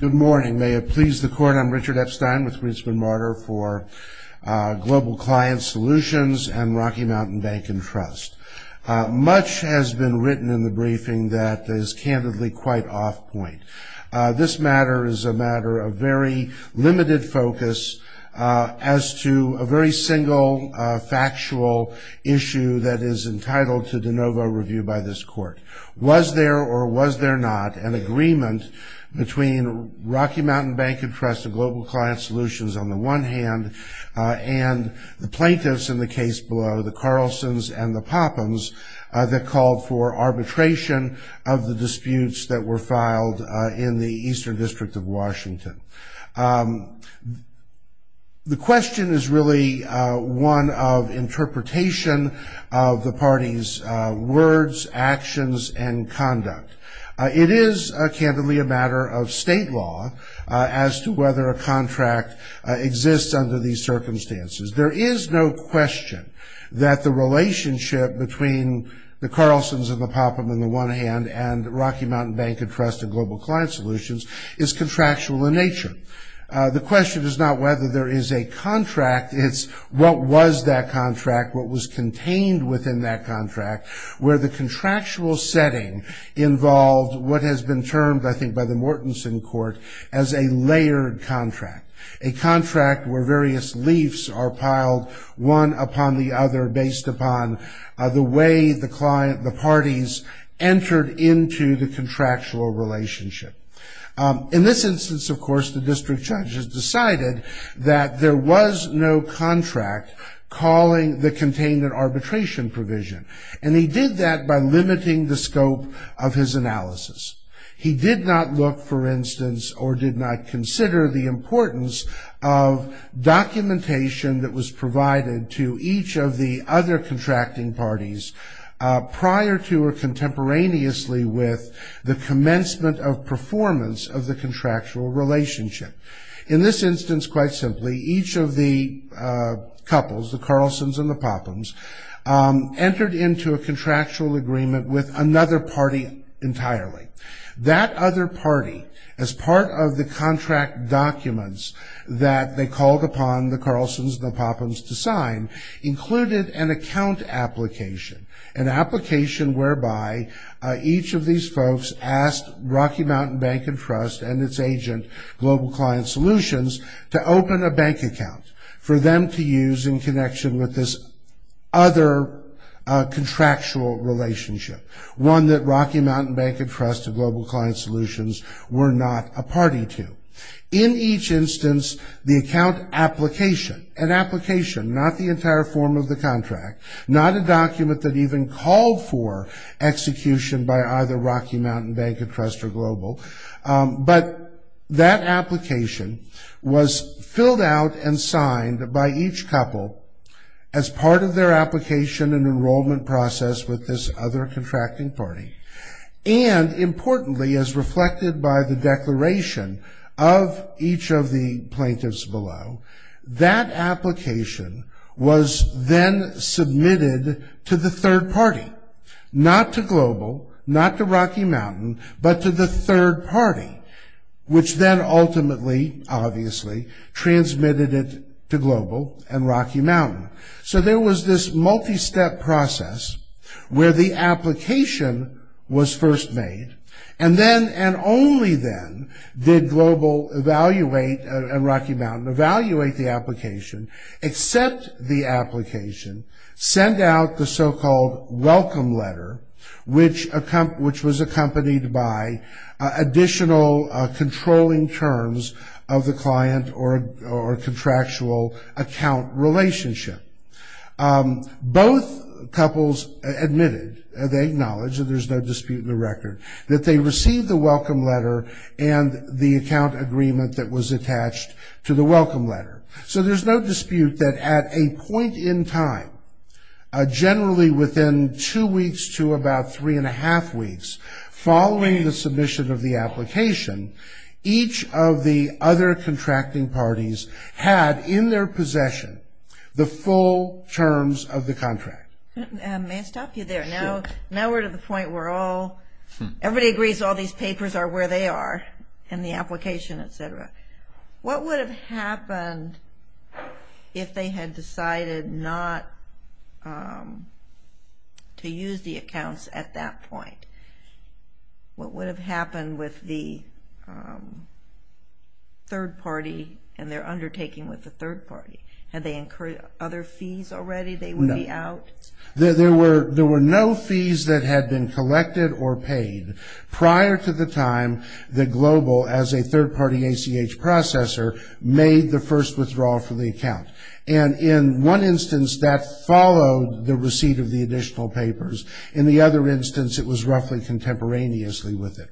Good morning may it please the court I'm Richard Epstein with Ritzman Marder for Global Client Solutions and Rocky Mountain Bank and Trust. Much has been written in the briefing that is candidly quite off point. This matter is a matter of very limited focus as to a very single factual issue that is entitled to de novo review by this court. Was there or was there not an agreement between Rocky Mountain Bank and Trust and Global Client Solutions on the one hand and the plaintiffs in the case below the Carlsons and the Poppins that called for arbitration of the disputes that were filed in the Eastern District of Washington. The question is really one of interpretation of the party's words actions and conduct. It is a candidly a matter of state law as to whether a contract exists under these circumstances. There is no question that the relationship between the Carlsons and the Poppins on the one hand and Rocky Mountain Bank and Trust and Global Client Solutions is contractual in nature. The question is not whether there is a contract it's what was that setting involved what has been termed I think by the Mortensen court as a layered contract. A contract where various leafs are piled one upon the other based upon the way the parties entered into the contractual relationship. In this instance of course the district judges decided that there was no contract calling the contained in arbitration provision and he did that by limiting the scope of his analysis. He did not look for instance or did not consider the importance of documentation that was provided to each of the other contracting parties prior to or contemporaneously with the commencement of performance of the contractual relationship. In this instance quite simply each of the couples the Carlsons and the Poppins entered into a agreement with another party entirely. That other party as part of the contract documents that they called upon the Carlsons and the Poppins to sign included an account application. An application whereby each of these folks asked Rocky Mountain Bank and Trust and its agent Global Client Solutions to open a bank account for them to use in connection with this other contractual relationship. One that Rocky Mountain Bank and Trust and Global Client Solutions were not a party to. In each instance the account application, an application not the entire form of the contract, not a document that even called for execution by either Rocky Mountain Bank and Trust or Global, but that application was filled out and signed by each couple as part of their application and enrollment process with this other contracting party. And importantly as reflected by the declaration of each of the plaintiffs below, that application was then submitted to the third party. Not to Global, not to Rocky Mountain, but to the third party that transmitted it to Global and Rocky Mountain. So there was this multi-step process where the application was first made and then and only then did Global evaluate and Rocky Mountain evaluate the application, accept the application, send out the so-called welcome letter which was accompanied by additional controlling terms of the client or contractual account relationship. Both couples admitted, they acknowledged, there's no dispute in the record, that they received the welcome letter and the account agreement that was attached to the welcome letter. So there's no dispute that at a point in time, generally within two weeks to about three and a half weeks, following the submission of the application, each of the other contracting parties had in their possession the full terms of the contract. May I stop you there? Now we're to the point where everybody agrees all these papers are where they are in the application, etc. What would have happened if they had decided not to use the accounts at that point? What would have happened with the third party and their undertaking with the third party? Had they incurred other fees already? They would be out? There were no fees that had been collected or paid prior to the time that Global, as a third-party ACH processor, made the first withdrawal from the account. And in one instance, that followed the receipt of the additional papers. In the other instance, it was roughly contemporaneously with it.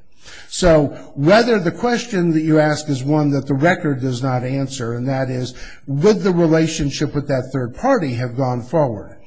So whether the question that you ask is one that the record does not answer, and that is, would the relationship with that third party have gone forward?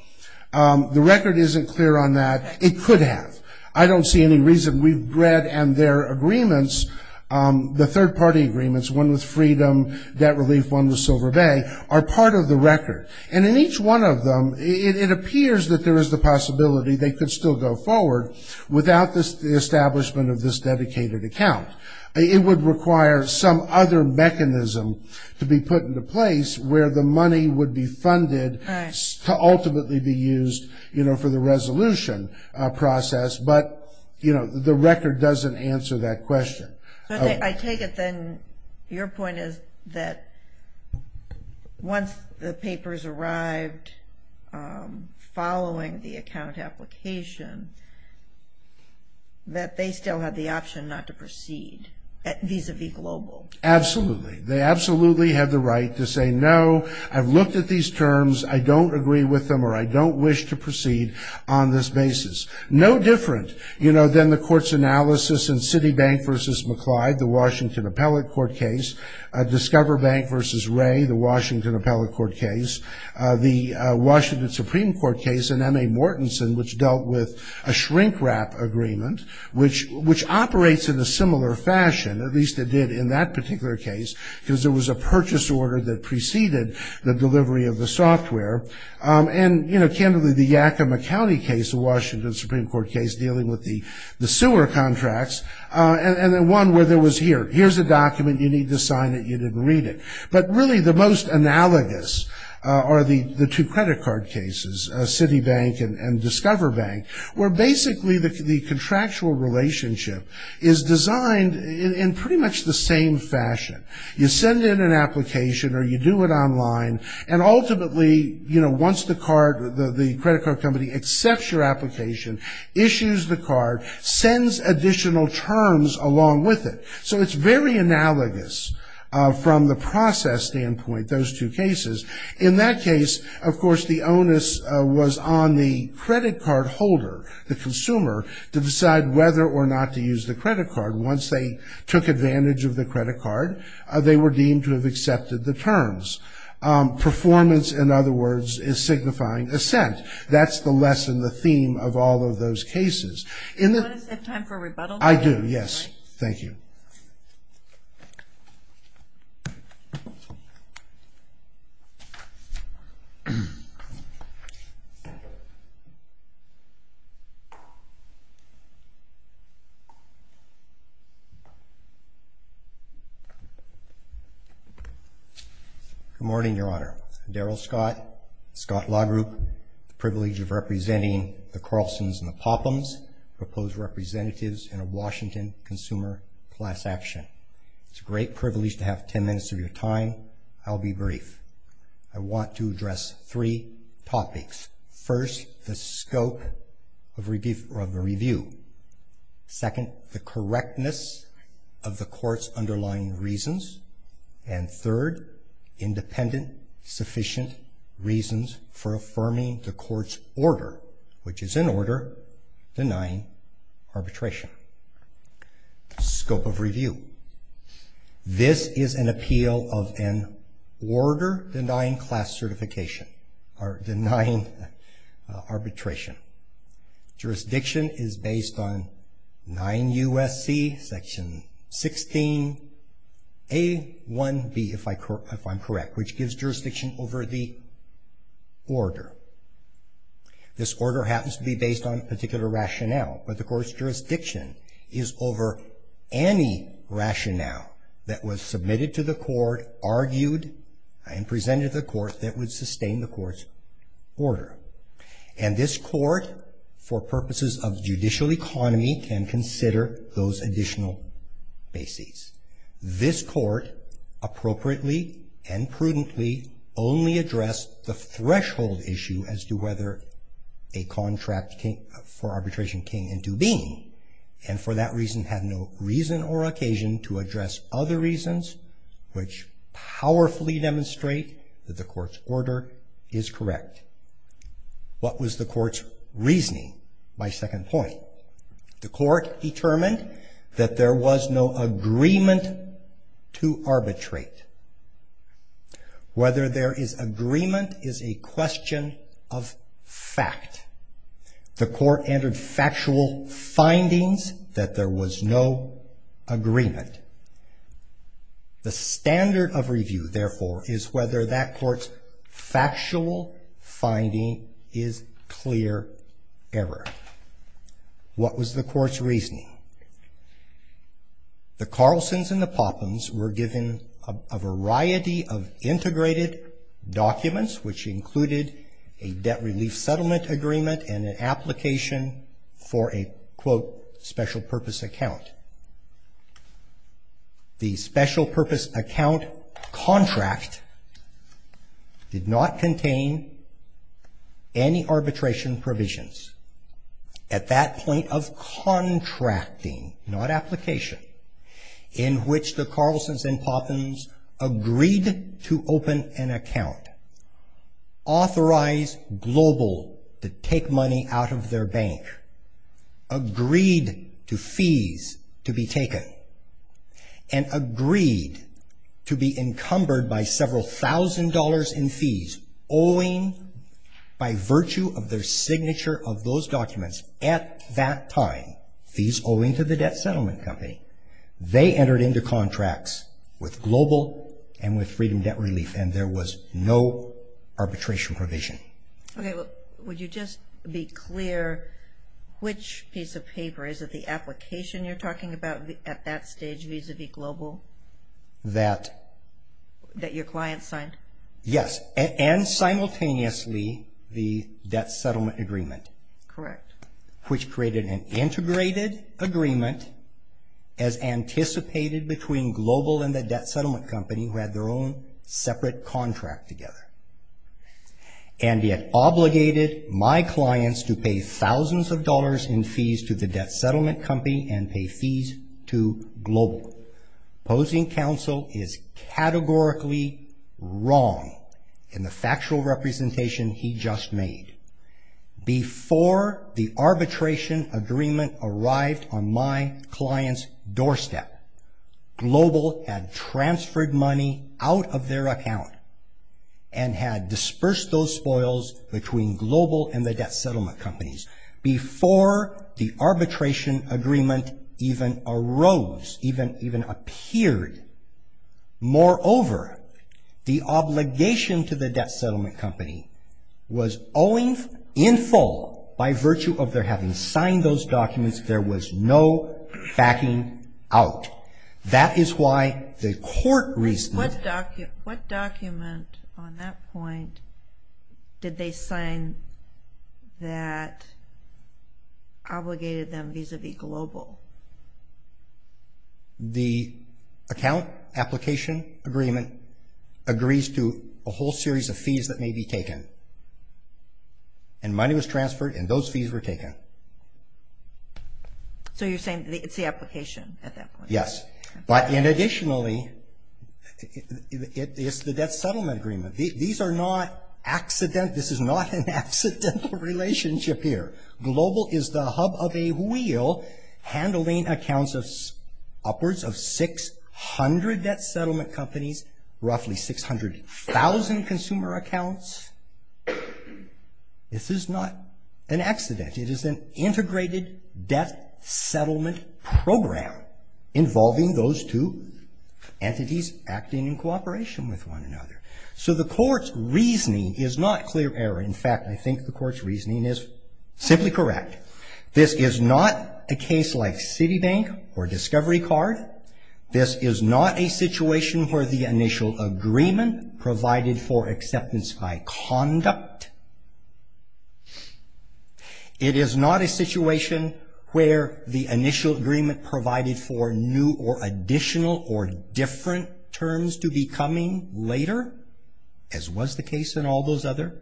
The record isn't clear on that. It could have. I don't see any reason. We've read and their agreements, the third-party agreements, one with Freedom, Debt Relief, one with Silver Bay, are part of the record. And in each one of them, it appears that there is the possibility they could still go forward without the establishment of this dedicated account. It would require some other mechanism to be put into place where the money would be funded to ultimately be used for the resolution process. But the record doesn't answer that question. I take it then, your point is that once the papers arrived following the account application, that they still had the option not to proceed vis-a-vis Global? Absolutely. They absolutely have the right to say, no, I've looked at these terms. I don't agree with them, or I don't wish to proceed on this basis. No different, you know, than the court's analysis in Citibank v. McLeod, the Washington Appellate Court case. Discover Bank v. Ray, the Washington Appellate Court case. The Washington Supreme Court case in M.A. Mortensen, which dealt with a shrink-wrap agreement, which operates in a similar fashion, at least it did in that particular case, because there was a purchase order that preceded the delivery of the software. And, you know, candidly, the Yakima County case, the Washington Supreme Court case, dealing with the sewer contracts. And then one where there was here, here's a document, you need to sign it, you didn't read it. But really the most analogous are the two credit card cases, Citibank and Discover Bank, where basically the contractual relationship is designed in pretty much the same fashion. You send in an application, or you do it online, and ultimately, you know, once the card, the credit card company accepts your it. So it's very analogous from the process standpoint, those two cases. In that case, of course, the onus was on the credit card holder, the consumer, to decide whether or not to use the credit card. Once they took advantage of the credit card, they were deemed to have accepted the terms. Performance, in other words, is signifying assent. That's the lesson, the theme of all of those cases. In the... Do you want to set time for rebuttal? I do, yes. Thank you. Good morning, Your Honor. Daryl Scott, Scott Law Group, the privilege of representatives in a Washington consumer class action. It's a great privilege to have 10 minutes of your time. I'll be brief. I want to address three topics. First, the scope of review, or of the review. Second, the correctness of the court's underlying reasons. And third, independent sufficient reasons for affirming the court's order, which is in order, denying arbitration. Scope of review. This is an appeal of an order denying class certification, or denying arbitration. Jurisdiction is based on 9 U.S.C. section 16 A.1.B., if I'm correct, which gives jurisdiction over the order. This order happens to be based on a particular rationale, but the court's jurisdiction is over any rationale that was submitted to the court, argued, and presented to the court that would sustain the court's order. And this court, for purposes of judicial economy, can prudently only address the threshold issue as to whether a contract for arbitration came into being, and for that reason had no reason or occasion to address other reasons which powerfully demonstrate that the court's order is correct. What was the court's reasoning by second point? The court determined that there was no agreement to arbitrate. Whether there is agreement is a question of fact. The court entered factual findings that there was no agreement. The standard of review, therefore, is whether that court's factual finding is clear error. What was the court's reasoning? The Carlsons and the Poppins were given a variety of integrated documents, which included a debt relief settlement agreement and an application for a, quote, special purpose account. The special purpose account was a contract for arbitration provisions. At that point of contracting, not application, in which the Carlsons and Poppins agreed to open an account, authorized Global to take money out of their bank, agreed to fees to be taken, and agreed to be encumbered by several thousand dollars in fees owing by Global. By virtue of their signature of those documents at that time, fees owing to the debt settlement company, they entered into contracts with Global and with Freedom Debt Relief, and there was no arbitration provision. Okay, would you just be clear which piece of paper? Is it the application you're talking about at that stage vis-a-vis Global that your client signed? Yes, and simultaneously the debt settlement agreement. Correct. Which created an integrated agreement as anticipated between Global and the debt settlement company, who had their own separate contract together, and yet obligated my clients to pay thousands of dollars in fees to the debt settlement company and pay fees to Global. Opposing counsel is categorically wrong in the factual representation he just made. Before the arbitration agreement arrived on my client's doorstep, Global had transferred money out of their account and had dispersed those spoils between Global and the debt settlement companies. Before the arbitration agreement even arose, even appeared, moreover, the obligation to the debt settlement company was owing in full by virtue of their having signed those documents, there was no backing out. That is why the court recently... What document on that point did they sign that obligated them vis-a-vis Global? The account application agreement agrees to a whole series of fees that may be taken, and money was transferred and those fees were taken. So you're saying it's the application at that point? Yes. But in additionally, it's the debt settlement agreement. These are not accident, this is not an accidental relationship here. Global is the hub of a wheel handling accounts of upwards of 600 debt settlement companies, roughly 600,000 consumer accounts. This is not an accident. It is an integrated debt settlement program involving those two entities acting in cooperation with one another. So the court's reasoning is not clear error. In fact, I think the court's reasoning is simply correct. This is not a case like Citibank or Discovery Card. This is not a situation where the initial agreement provided for new or additional or different terms to be coming later, as was the case in all those other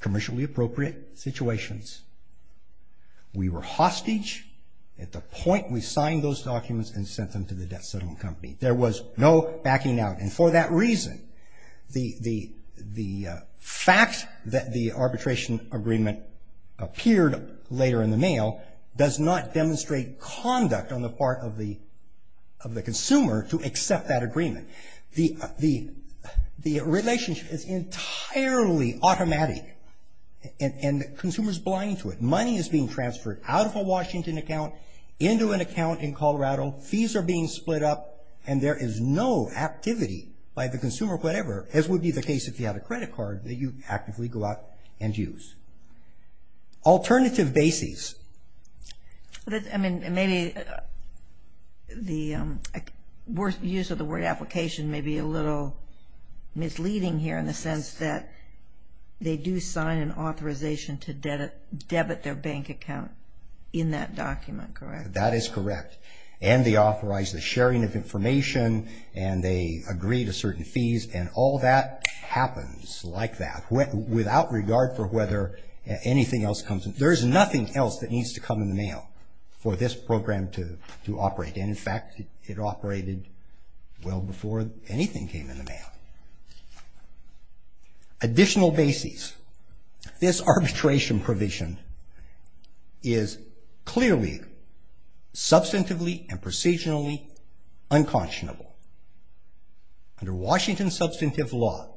commercially appropriate situations. We were hostage at the point we signed those documents and sent them to the debt settlement company. There was no backing out, and for that reason, the fact that the arbitration agreement appeared later in the mail does not demonstrate conduct on the part of the consumer to accept that agreement. The relationship is entirely automatic, and the consumer's blind to it. Money is being transferred out of a Washington account into an account in Colorado. Fees are being split up, and there is no activity by the consumer, whatever, as would be the case if you had a credit card, that you actively go out and use. Alternative basis. I mean, maybe the use of the word application may be a little misleading here in the sense that they do sign an authorization to debit their bank account in that document, correct? That is correct, and they authorize the sharing of information, and they agree to certain fees, and all that happens like that without regard for whether anything else comes in. There is nothing else that needs to come in the mail for this program to operate, and in fact, it operated well before anything came in the mail. Additional basis. This arbitration provision is clearly substantively and precisionally unconscionable. Under Washington substantive law,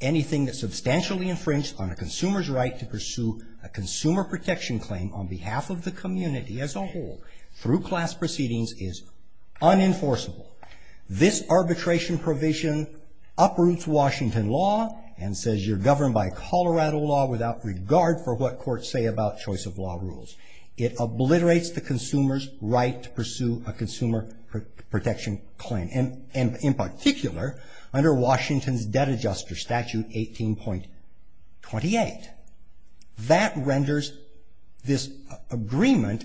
anything that substantially infringes on a consumer's right to pursue a consumer protection claim on behalf of the community as a whole through class proceedings is unenforceable. This arbitration provision uproots Washington law and says you're governed by Colorado law without regard for what courts say about choice of law rules. It obliterates the consumer's right to pursue a consumer protection claim, and in particular, under Washington's debt adjuster statute 18.28, that renders this agreement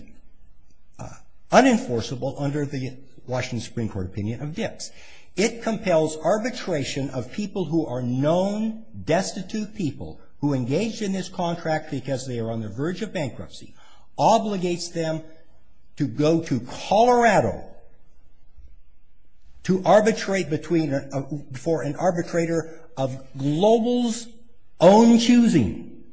unenforceable under the Washington Supreme Court opinion of Dix. It compels arbitration of people who are known destitute people who are engaged in this contract because they are on the verge of bankruptcy, obligates them to go to Colorado to arbitrate between, for an arbitrator of global's own choosing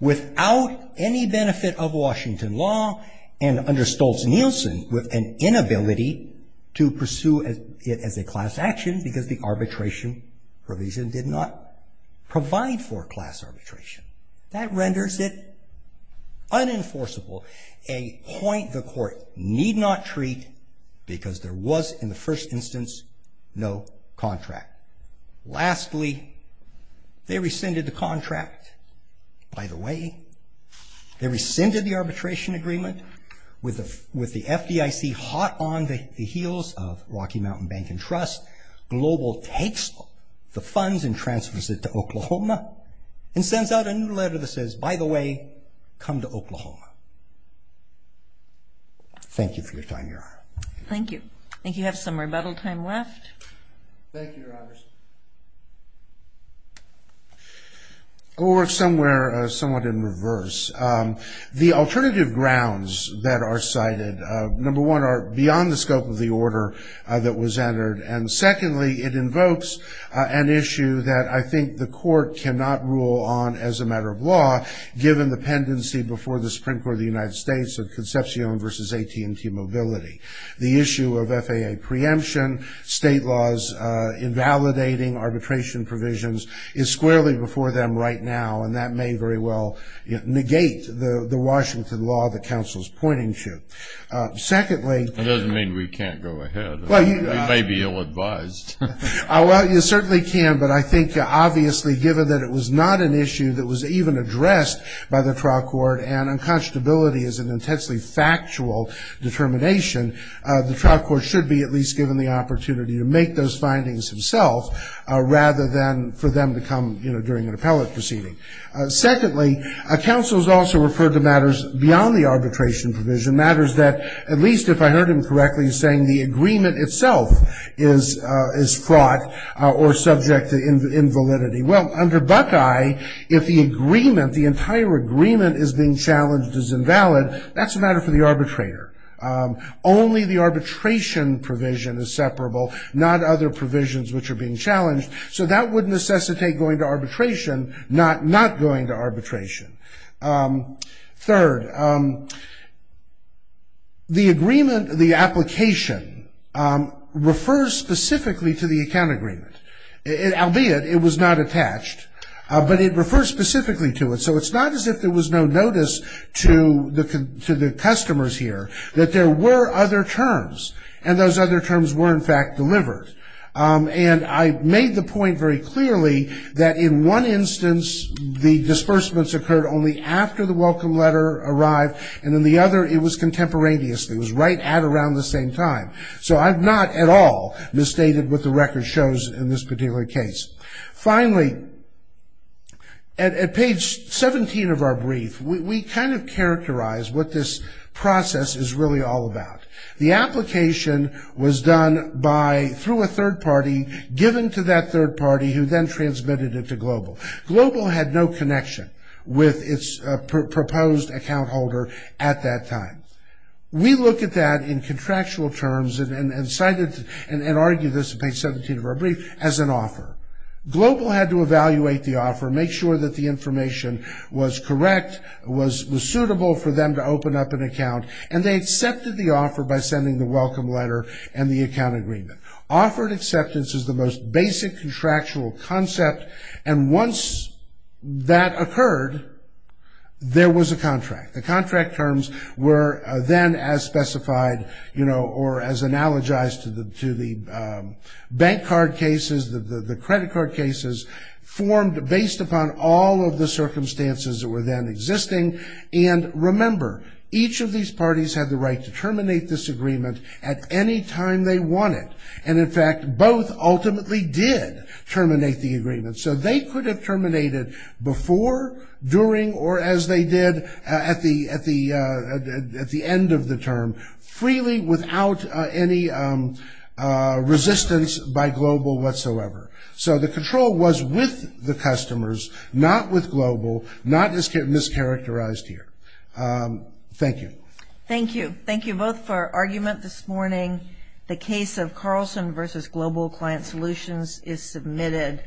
without any benefit of Washington law, and under Stoltz-Nielsen with an inability to pursue it as a class action because the That renders it unenforceable, a point the court need not treat because there was in the first instance no contract. Lastly, they rescinded the contract. By the way, they rescinded the arbitration agreement with the FDIC hot on the heels of Rocky Mountain Bank and Trust. Global takes the funds and Oklahoma and sends out a new letter that says, by the way, come to Oklahoma. Thank you for your time, Your Honor. Thank you. I think you have some rebuttal time left. Thank you, Your Honors. We'll work somewhere somewhat in reverse. The alternative grounds that are cited, number one, are beyond the scope of the order that was entered, and secondly, it invokes an issue that I think the court cannot rule on as a matter of law, given the pendency before the Supreme Court of the United States of Concepcion versus AT&T Mobility. The issue of FAA preemption, state laws invalidating arbitration provisions, is squarely before them right now, and that may very well negate the Washington law that counsel's pointing to. Secondly- That doesn't mean we can't go ahead. We may be ill-advised. Well, you certainly can, but I think, obviously, given that it was not an issue that was even addressed by the trial court, and unconscionability is an intensely factual determination, the trial court should be at least given the opportunity to make those findings himself, rather than for them to come during an appellate proceeding. Secondly, counsel's also referred to matters beyond the arbitration provision, matters that, at least if I heard him correctly, he's saying the agreement itself is fraught or subject to invalidity. Well, under Buckeye, if the agreement, the entire agreement is being challenged as invalid, that's a matter for the arbitrator. Only the arbitration provision is separable, not other provisions which are being challenged, so that would necessitate going to arbitration, not going to arbitration. Third, the agreement, the application, refers specifically to the account agreement, albeit it was not attached, but it refers specifically to it, so it's not as if there was no notice to the customers here that there were other terms, and those other terms were, in fact, delivered. And I made the point very clearly that in one instance, the disbursements occurred only after the welcome letter arrived, and in the other, it was contemporaneously, it was right at around the same time. So I've not at all misstated what the record shows in this particular case. Finally, at page 17 of our brief, we kind of characterize what this process is really all about. The application was done by, through a third party, given to that third party, who then transmitted it to Global. Global had no connection with its proposed account holder at that time. We look at that in contractual terms, and cite it, and argue this at page 17 of our brief, as an offer. Global had to evaluate the offer, make sure that the information was correct, was suitable for them to open up an account, and they accepted the offer by sending the welcome letter and the account agreement. Offered acceptance is the most basic contractual concept, and once that occurred, there was a contract. The contract terms were then, as specified, you know, or as analogized to the bank card cases, the credit card cases, formed based upon all of the circumstances that were then existing. And remember, each of these parties had the right to terminate this agreement at any time they wanted. And in fact, both ultimately did terminate the agreement. So they could have terminated before, during, or as they did at the end of the term, freely, without any resistance by Global whatsoever. So the control was with the customers, not with Global, not mischaracterized here. Thank you. Thank you. Thank you both for argument this morning. The case of Carlson versus Global Client Solutions is submitted.